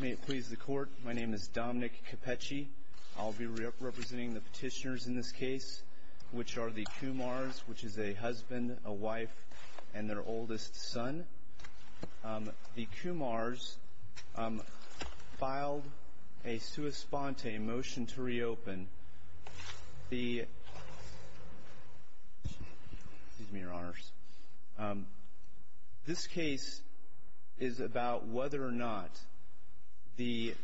May it please the court, my name is Dominic Cappecci. I'll be representing the petitioners in this case, which are the Kumars, which is a husband, a wife, and their oldest son. The Kumars filed a sua sponte motion to reopen the, excuse me your honors, this case is about whether or not the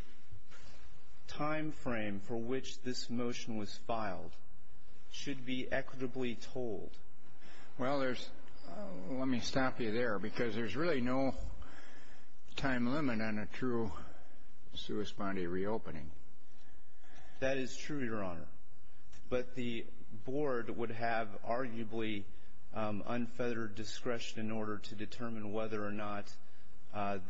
time frame for which this motion was filed should be equitably told. Well there's, let me stop you there because there's really no time limit on a true sua sponte reopening. That is true your honor, but the board would have arguably unfettered discretion in order to determine whether or not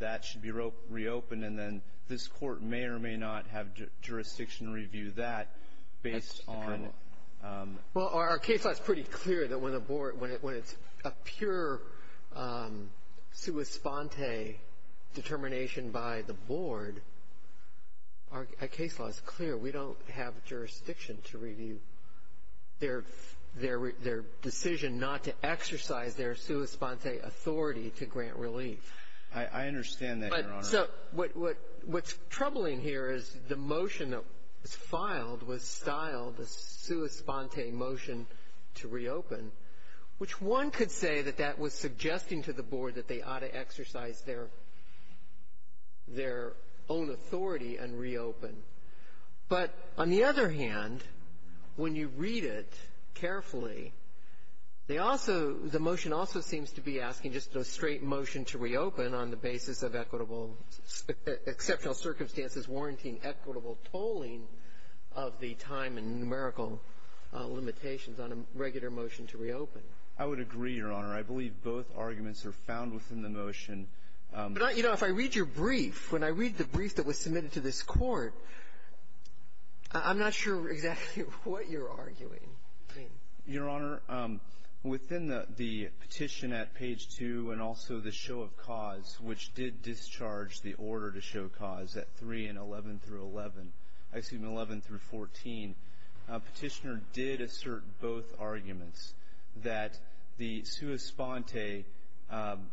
that should be reopened and then this court may or may not have jurisdiction review that based on Well our case law is pretty clear that when the board, when it's a pure sua sponte determination by the board, our case law is clear. We don't have jurisdiction to review their decision not to exercise their sua sponte authority to grant relief. I understand that your honor. So what's troubling here is the motion that was filed was styled a sua sponte motion to reopen, which one could say that that was suggesting to the board that they ought to exercise their own authority and reopen. But on the other hand, when you read it carefully, they also, the motion also seems to be asking just a straight motion to reopen on the basis of equitable, exceptional circumstances warranting equitable tolling of the time and numerical limitations on a regular motion to reopen. I would agree your honor. I believe both arguments are found within the motion. But you know, if I read your brief, when I read the brief that was submitted to this court, I'm not sure exactly what you're arguing. Your honor, within the petition at page 2 and also the show of cause, which did discharge the order to show cause at 3 and 11 through 11, excuse me, 11 through 14, petitioner did assert both arguments that the sua sponte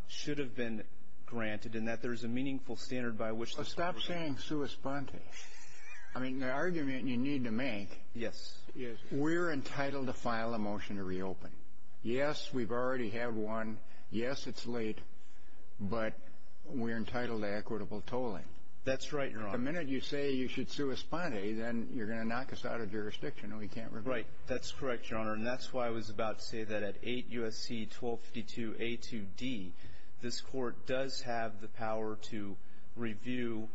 should have been granted and that there's a meaningful standard by which. Stop saying sua sponte. I mean, the argument you need to make. Yes. Yes. We're entitled to file a motion to reopen. Yes. We've already had one. Yes. It's late, but we're entitled to equitable tolling. That's right. You're on a minute. You say you should sue a sponte. Then you're going to knock us out of jurisdiction. We can't. Right. That's correct, your honor. And that's why I was about to say that at 8 U.S.C. 1252 A2D, this court does have the power to review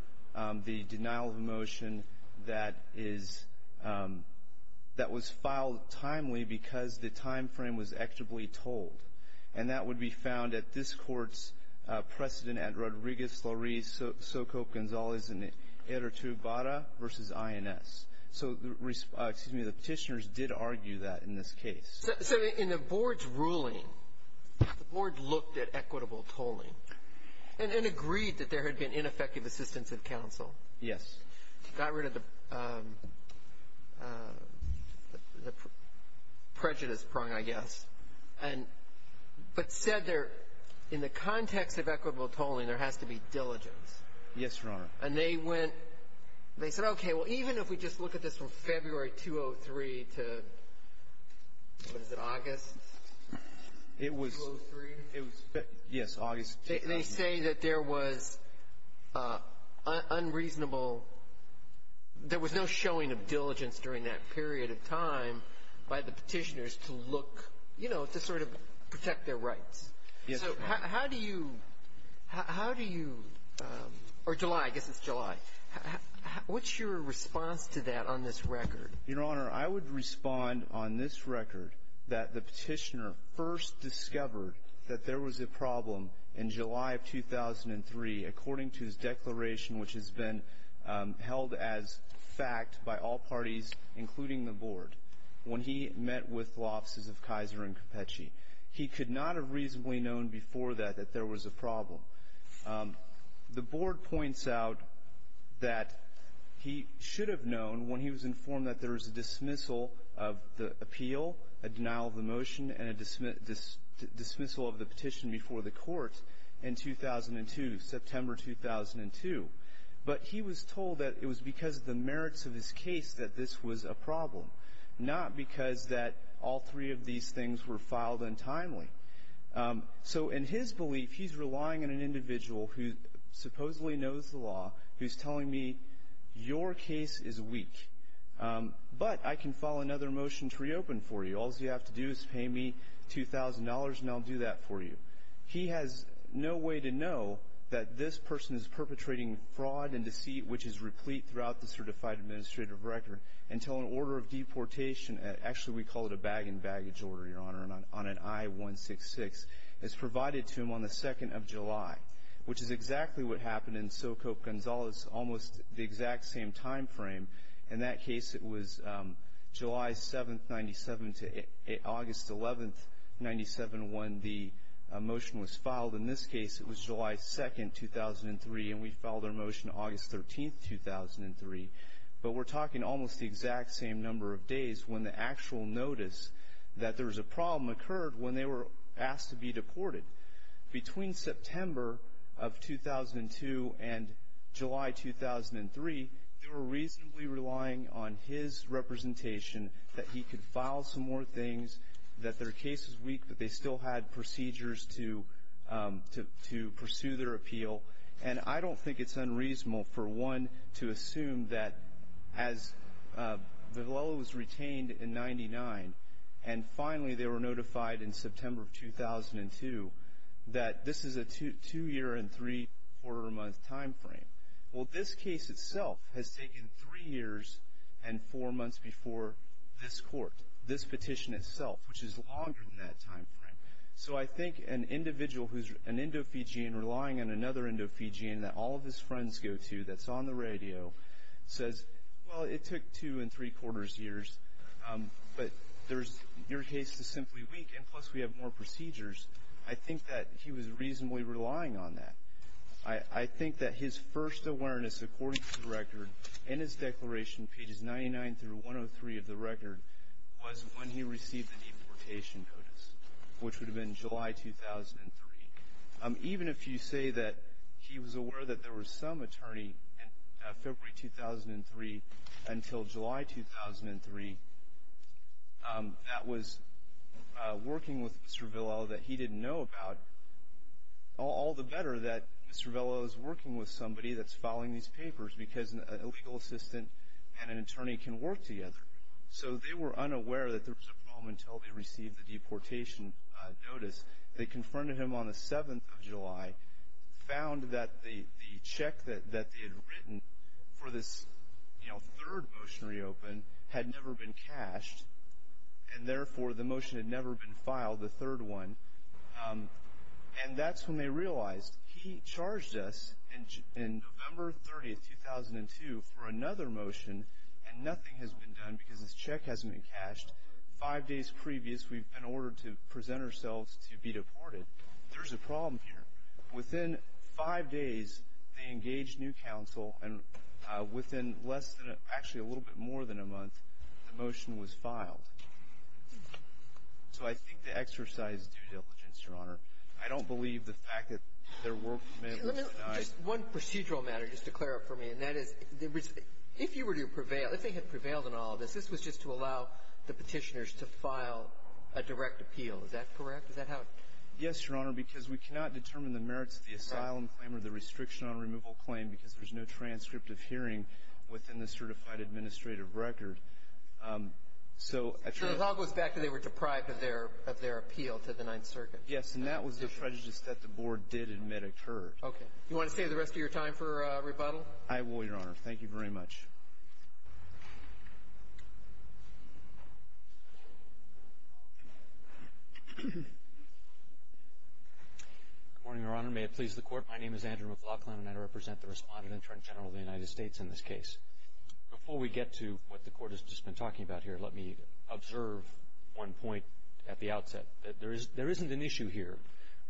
the denial of a motion that is, that was filed timely because the time frame was equitably tolled. And that would be found at this court's precedent at Rodriguez-Laurie-Socote-Gonzalez and Eritubara versus INS. So, excuse me, the petitioners did argue that in this case. So, in the board's ruling, the board looked at equitable tolling and agreed that there had been ineffective assistance of counsel. Yes. Got rid of the prejudice prong, I guess, but said there, in the context of equitable tolling, there has to be diligence. Yes, your honor. And they went, they said, okay, well, even if we just look at this from February 2003 to, what is it, August 2003? It was, yes, August 2003. They say that there was unreasonable, there was no showing of diligence during that period of time by the petitioners to look, you know, to sort of protect their rights. Yes, your honor. How do you, how do you, or July, I guess it's July. What's your response to that on this record? Your honor, I would respond on this record that the petitioner first discovered that there was a problem in July of 2003, according to his declaration, which has been held as fact by all parties, including the board. When he met with the offices of Kaiser and Cappucci, he could not have reasonably known before that that there was a problem. The board points out that he should have known when he was informed that there was a dismissal of the appeal, a denial of the motion, and a dismissal of the petition before the court in 2002, September 2002. But he was told that it was because of the merits of his case that this was a problem, not because that all three of these things were filed untimely. So in his belief, he's relying on an individual who supposedly knows the law, who's telling me your case is weak, but I can file another motion to reopen for you. All you have to do is pay me $2,000 and I'll do that for you. He has no way to know that this person is perpetrating fraud and deceit, which is replete throughout the certified administrative record until an order of deportation, actually we call it a bag and baggage order, Your Honor, on an I-166, is provided to him on the 2nd of July, which is exactly what happened in SoCope, Gonzales, almost the exact same time frame. In that case, it was July 7th, 97 to August 11th, 97, when the motion was filed. In this case, it was July 2nd, 2003, and we filed our motion August 13th, 2003. But we're talking almost the exact same number of days when the actual notice that there was a problem occurred when they were asked to be deported. Between September of 2002 and July 2003, they were reasonably relying on his representation that he could file some more things, that their case is weak, but they still had procedures to pursue their appeal. And I don't think it's unreasonable for one to assume that as Vigliela was retained in 99 and finally they were notified in September of 2002 that this is a two-year and three-quarter-month time frame. Well, this case itself has taken three years and four months before this court, this petition itself, which is longer than that time frame. So I think an individual who's an Indo-Fijian relying on another Indo-Fijian that all of his friends go to that's on the radio says, well, it took two and three-quarters years, but your case is simply weak, and plus we have more procedures. I think that he was reasonably relying on that. I think that his first awareness, according to the record, in his declaration, pages 99 through 103 of the record, was when he received an importation notice, which would have been July 2003. Even if you say that he was aware that there was some attorney in February 2003 until July 2003 that was working with Mr. Vigliela that he didn't know about, all the better that Mr. Vigliela is working with somebody that's following these papers because a legal assistant and an attorney can work together. So they were unaware that there was a problem until they received the deportation notice. They confronted him on the 7th of July, found that the check that they had written for this, you know, third motionary open had never been cashed, and therefore the motion had never been filed, the third one. And that's when they realized he charged us in November 30, 2002, for another motion, and nothing has been done because this check hasn't been cashed. Now, five days previous, we've been ordered to present ourselves to be deported. There's a problem here. Within five days, they engaged new counsel, and within less than actually a little bit more than a month, the motion was filed. So I think the exercise of due diligence, Your Honor. I don't believe the fact that their work may have been denied. Just one procedural matter just to clear up for me, and that is if you were to prevail, if they had prevailed in all of this, this was just to allow the petitioners to file a direct appeal. Is that correct? Is that how? Yes, Your Honor, because we cannot determine the merits of the asylum claim or the restriction on removal claim because there's no transcript of hearing within the certified administrative record. So it all goes back to they were deprived of their appeal to the Ninth Circuit. Yes, and that was the prejudice that the board did admit occurred. Okay. Do you want to save the rest of your time for rebuttal? I will, Your Honor. Thank you very much. Good morning, Your Honor. May it please the Court. My name is Andrew McLaughlin, and I represent the Respondent-Intern General of the United States in this case. Before we get to what the Court has just been talking about here, let me observe one point at the outset. There isn't an issue here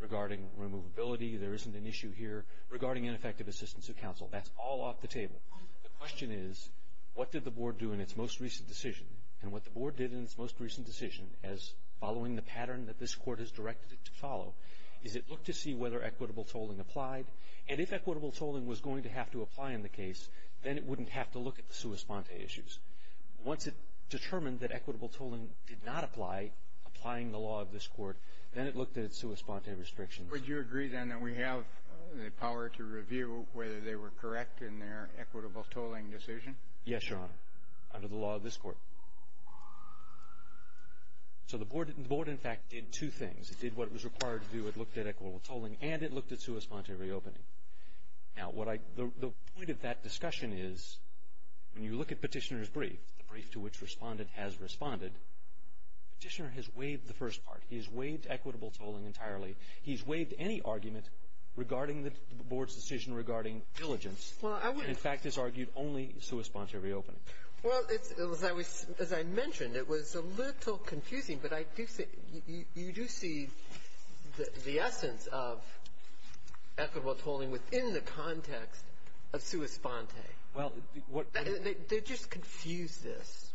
regarding removability. There isn't an issue here regarding ineffective assistance of counsel. That's all off the table. The question is, what did the board do in its most recent decision? And what the board did in its most recent decision, as following the pattern that this Court has directed it to follow, is it looked to see whether equitable tolling applied, and if equitable tolling was going to have to apply in the case, then it wouldn't have to look at the sua sponte issues. Once it determined that equitable tolling did not apply, applying the law of this Court, then it looked at its sua sponte restrictions. Would you agree, then, that we have the power to review whether they were correct in their equitable tolling decision? Yes, Your Honor, under the law of this Court. So the board, in fact, did two things. It did what it was required to do. It looked at equitable tolling, and it looked at sua sponte reopening. Now, the point of that discussion is, when you look at Petitioner's brief, the brief to which Respondent has responded, Petitioner has waived the first part. He has waived equitable tolling entirely. He has waived any argument regarding the board's decision regarding diligence, and, in fact, has argued only sua sponte reopening. Well, as I mentioned, it was a little confusing, but you do see the essence of equitable tolling within the context of sua sponte. They just confused this.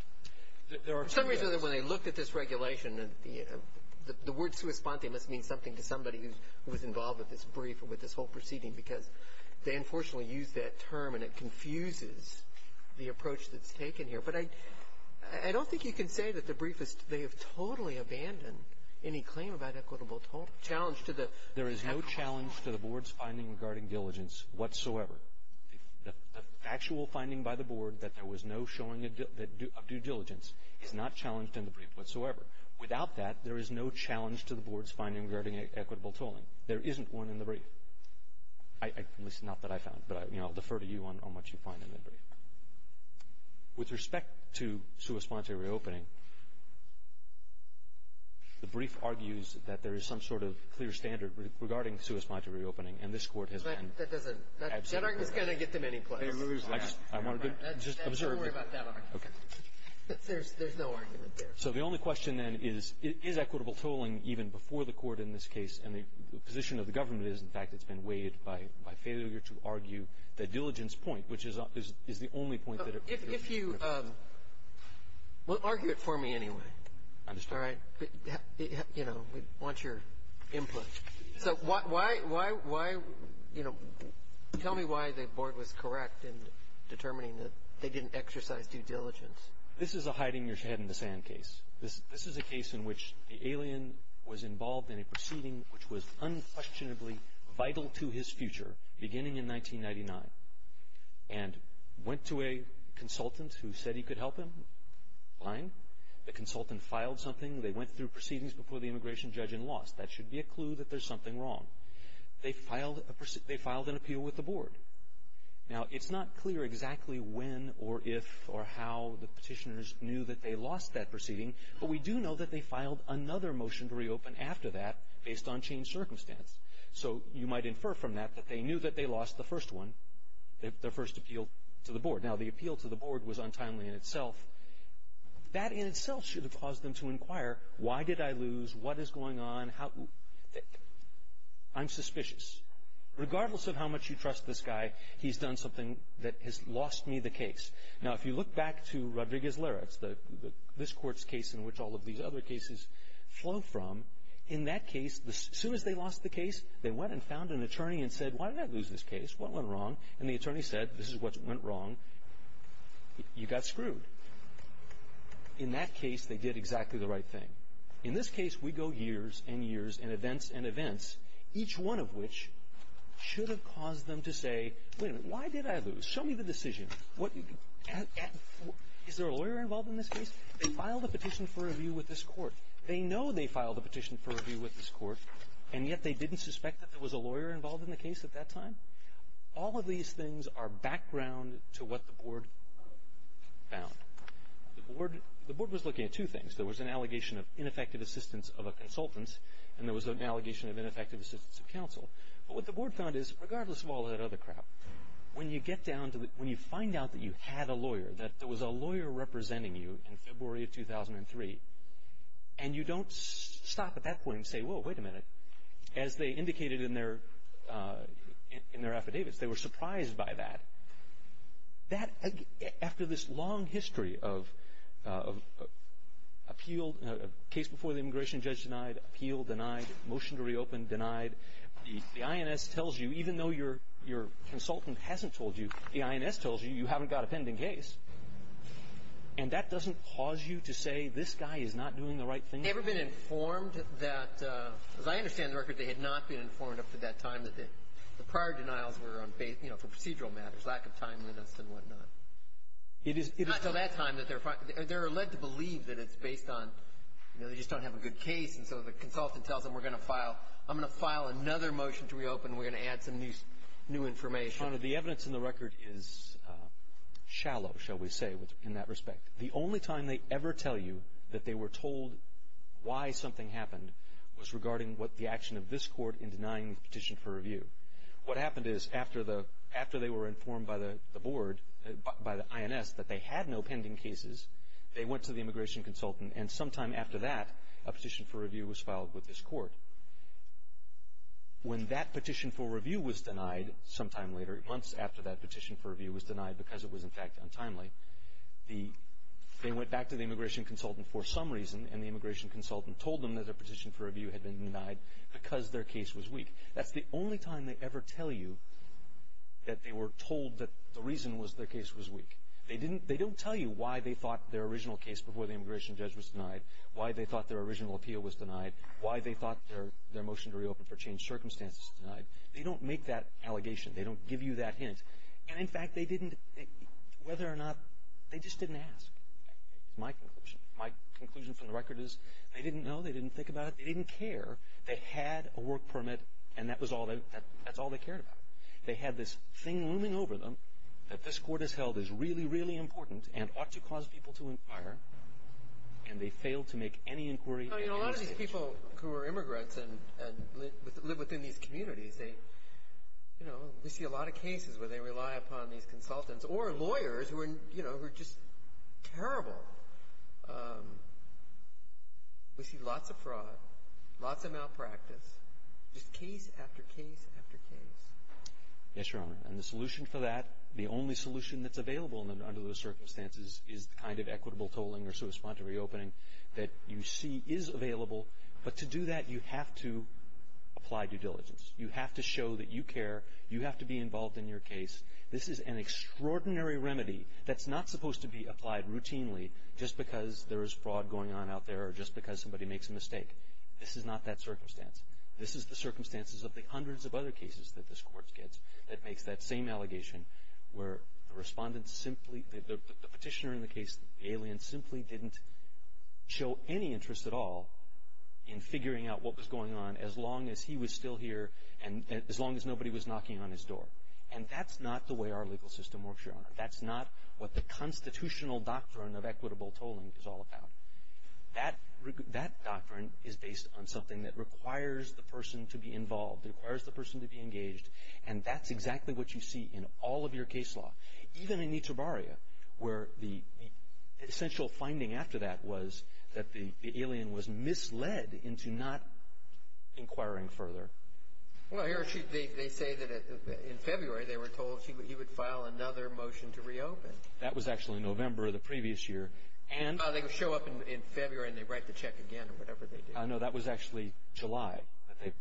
For some reason, when they looked at this regulation, the word sua sponte must mean something to somebody who was involved with this brief or with this whole proceeding because they unfortunately used that term, and it confuses the approach that's taken here. But I don't think you can say that the briefists, they have totally abandoned any claim about equitable tolling. There is no challenge to the board's finding regarding diligence whatsoever. The actual finding by the board that there was no showing of due diligence is not challenged in the brief whatsoever. Without that, there is no challenge to the board's finding regarding equitable tolling. There isn't one in the brief, at least not that I found. But, you know, I'll defer to you on what you find in the brief. With respect to sua sponte reopening, the brief argues that there is some sort of clear standard regarding sua sponte reopening, and this Court has been absolutely clear about that. That argument is going to get to many places. Don't worry about that argument. There's no argument there. So the only question, then, is, is equitable tolling even before the Court in this case? And the position of the government is, in fact, it's been weighed by failure to argue the diligence point, which is the only point. If you argue it for me anyway. I understand. All right. You know, we want your input. So why, you know, tell me why the board was correct in determining that they didn't exercise due diligence. This is a hiding your head in the sand case. This is a case in which the alien was involved in a proceeding which was unquestionably vital to his future beginning in 1999 and went to a consultant who said he could help him. Fine. The consultant filed something. They went through proceedings before the immigration judge and lost. That should be a clue that there's something wrong. They filed an appeal with the board. Now, it's not clear exactly when or if or how the petitioners knew that they lost that proceeding, but we do know that they filed another motion to reopen after that based on changed circumstance. So you might infer from that that they knew that they lost the first one, their first appeal to the board. Now, the appeal to the board was untimely in itself. That in itself should have caused them to inquire, why did I lose? What is going on? I'm suspicious. Regardless of how much you trust this guy, he's done something that has lost me the case. Now, if you look back to Rodriguez-Larratt's, this court's case in which all of these other cases flow from, in that case, as soon as they lost the case, they went and found an attorney and said, why did I lose this case? What went wrong? And the attorney said, this is what went wrong. You got screwed. In that case, they did exactly the right thing. In this case, we go years and years and events and events, each one of which should have caused them to say, wait a minute, why did I lose? Show me the decision. Is there a lawyer involved in this case? They filed a petition for review with this court. They know they filed a petition for review with this court, and yet they didn't suspect that there was a lawyer involved in the case at that time? All of these things are background to what the board found. The board was looking at two things. There was an allegation of ineffective assistance of a consultant, and there was an allegation of ineffective assistance of counsel. But what the board found is, regardless of all that other crap, when you get down to it, when you find out that you had a lawyer, that there was a lawyer representing you in February of 2003, and you don't stop at that point and say, whoa, wait a minute. As they indicated in their affidavits, they were surprised by that. After this long history of appeal, case before the immigration judge denied, appeal denied, motion to reopen denied, the INS tells you, even though your consultant hasn't told you, the INS tells you, you haven't got a pending case. And that doesn't cause you to say, this guy is not doing the right thing? They've never been informed that, as I understand the record, they had not been informed up to that time that the prior denials were for procedural matters, lack of timeliness and whatnot. It is until that time that they're led to believe that it's based on, you know, they just don't have a good case, and so the consultant tells them, we're going to file, I'm going to file another motion to reopen, and we're going to add some new information. Your Honor, the evidence in the record is shallow, shall we say, in that respect. The only time they ever tell you that they were told why something happened was regarding what the action of this court in denying the petition for review. What happened is, after they were informed by the board, by the INS, that they had no pending cases, they went to the immigration consultant, and sometime after that, a petition for review was filed with this court. When that petition for review was denied, sometime later, months after that petition for review was denied because it was, in fact, untimely, they went back to the immigration consultant for some reason, and the immigration consultant told them that a petition for review had been denied because their case was weak. That's the only time they ever tell you that they were told that the reason was their case was weak. They don't tell you why they thought their original case before the immigration judge was denied, why they thought their original appeal was denied, why they thought their motion to reopen for changed circumstances was denied. They don't make that allegation. They don't give you that hint. And, in fact, they didn't, whether or not, they just didn't ask, is my conclusion. My conclusion from the record is they didn't know. They didn't think about it. They didn't care. They had a work permit, and that's all they cared about. They had this thing looming over them that this court has held is really, really important and ought to cause people to inquire, and they failed to make any inquiry. Well, you know, a lot of these people who are immigrants and live within these communities, they, you know, we see a lot of cases where they rely upon these consultants or lawyers who are, you know, who are just terrible. We see lots of fraud, lots of malpractice, just case after case after case. Yes, Your Honor, and the solution for that, the only solution that's available under those circumstances is the kind of equitable tolling or so respond to reopening that you see is available. But to do that, you have to apply due diligence. You have to show that you care. You have to be involved in your case. This is an extraordinary remedy that's not supposed to be applied routinely just because there is fraud going on out there or just because somebody makes a mistake. This is not that circumstance. This is the circumstances of the hundreds of other cases that this court gets that makes that same allegation where the respondent simply, the petitioner in the case, the alien, simply didn't show any interest at all in figuring out what was going on as long as he was still here and as long as nobody was knocking on his door. And that's not the way our legal system works, Your Honor. That's not what the constitutional doctrine of equitable tolling is all about. That doctrine is based on something that requires the person to be involved. It requires the person to be engaged. And that's exactly what you see in all of your case law, even in Itabarria, where the essential finding after that was that the alien was misled into not inquiring further. Well, they say that in February they were told he would file another motion to reopen. That was actually November of the previous year. They show up in February and they write the check again or whatever they did. No, that was actually July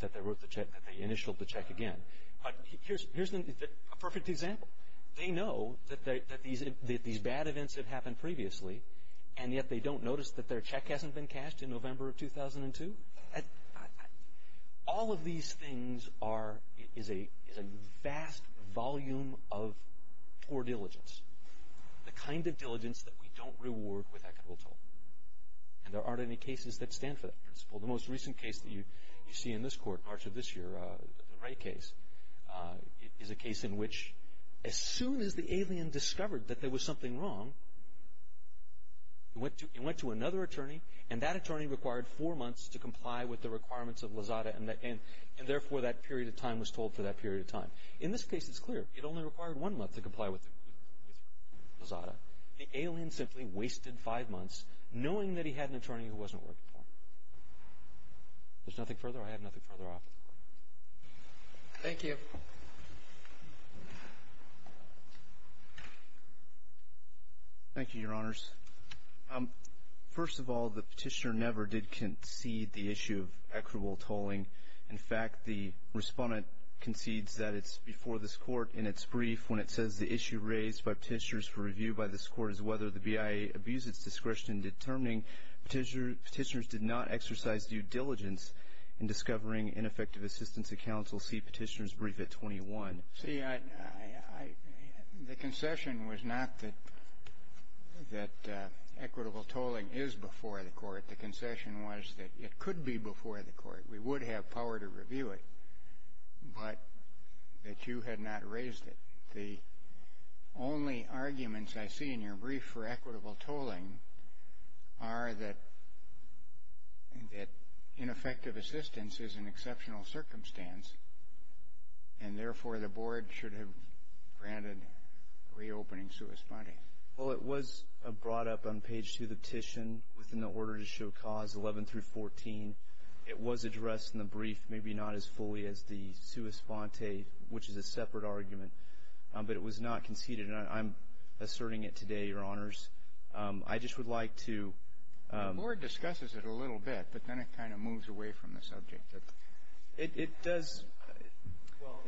that they initialed the check again. But here's a perfect example. They know that these bad events have happened previously, and yet they don't notice that their check hasn't been cashed in November of 2002. All of these things is a vast volume of poor diligence, the kind of diligence that we don't reward with equitable tolling. And there aren't any cases that stand for that principle. The most recent case that you see in this court, March of this year, the Wright case, is a case in which as soon as the alien discovered that there was something wrong, it went to another attorney, and that attorney required four months to comply with the requirements of Lozada, and therefore that period of time was told for that period of time. In this case, it's clear. It only required one month to comply with Lozada. The alien simply wasted five months knowing that he had an attorney who wasn't working for him. If there's nothing further, I have nothing further to offer. Thank you. Thank you, Your Honors. First of all, the petitioner never did concede the issue of equitable tolling. In fact, the respondent concedes that it's before this court in its brief when it says the issue raised by petitioners for review by this court is whether the BIA abused its discretion in determining petitioners did not exercise due diligence in discovering ineffective assistance to counsel. See petitioner's brief at 21. See, the concession was not that equitable tolling is before the court. The concession was that it could be before the court. We would have power to review it, but that you had not raised it. The only arguments I see in your brief for equitable tolling are that ineffective assistance is an exceptional circumstance, and therefore the board should have granted reopening to a respondent. Well, it was brought up on page 2 of the petition within the order to show cause, 11 through 14. It was addressed in the brief, maybe not as fully as the sua sponte, which is a separate argument, but it was not conceded, and I'm asserting it today, Your Honors. I just would like to – The board discusses it a little bit, but then it kind of moves away from the subject. It does – well,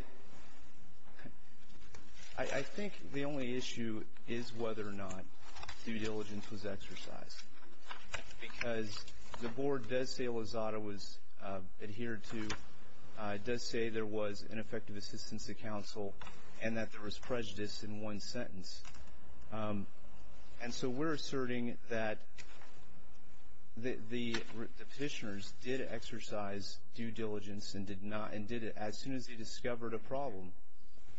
I think the only issue is whether or not due diligence was exercised, because the board does say Lozada was adhered to. It does say there was ineffective assistance to counsel and that there was prejudice in one sentence. And so we're asserting that the petitioners did exercise due diligence and did it as soon as they discovered a problem.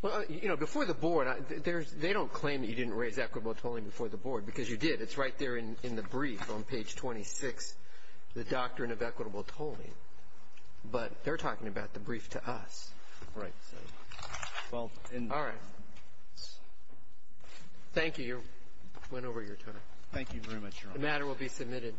Well, you know, before the board, they don't claim that you didn't raise equitable tolling before the board, because you did. It's right there in the brief on page 26, the doctrine of equitable tolling. But they're talking about the brief to us. Right. All right. Thank you. You went over your turn. The matter will be submitted. Thank you.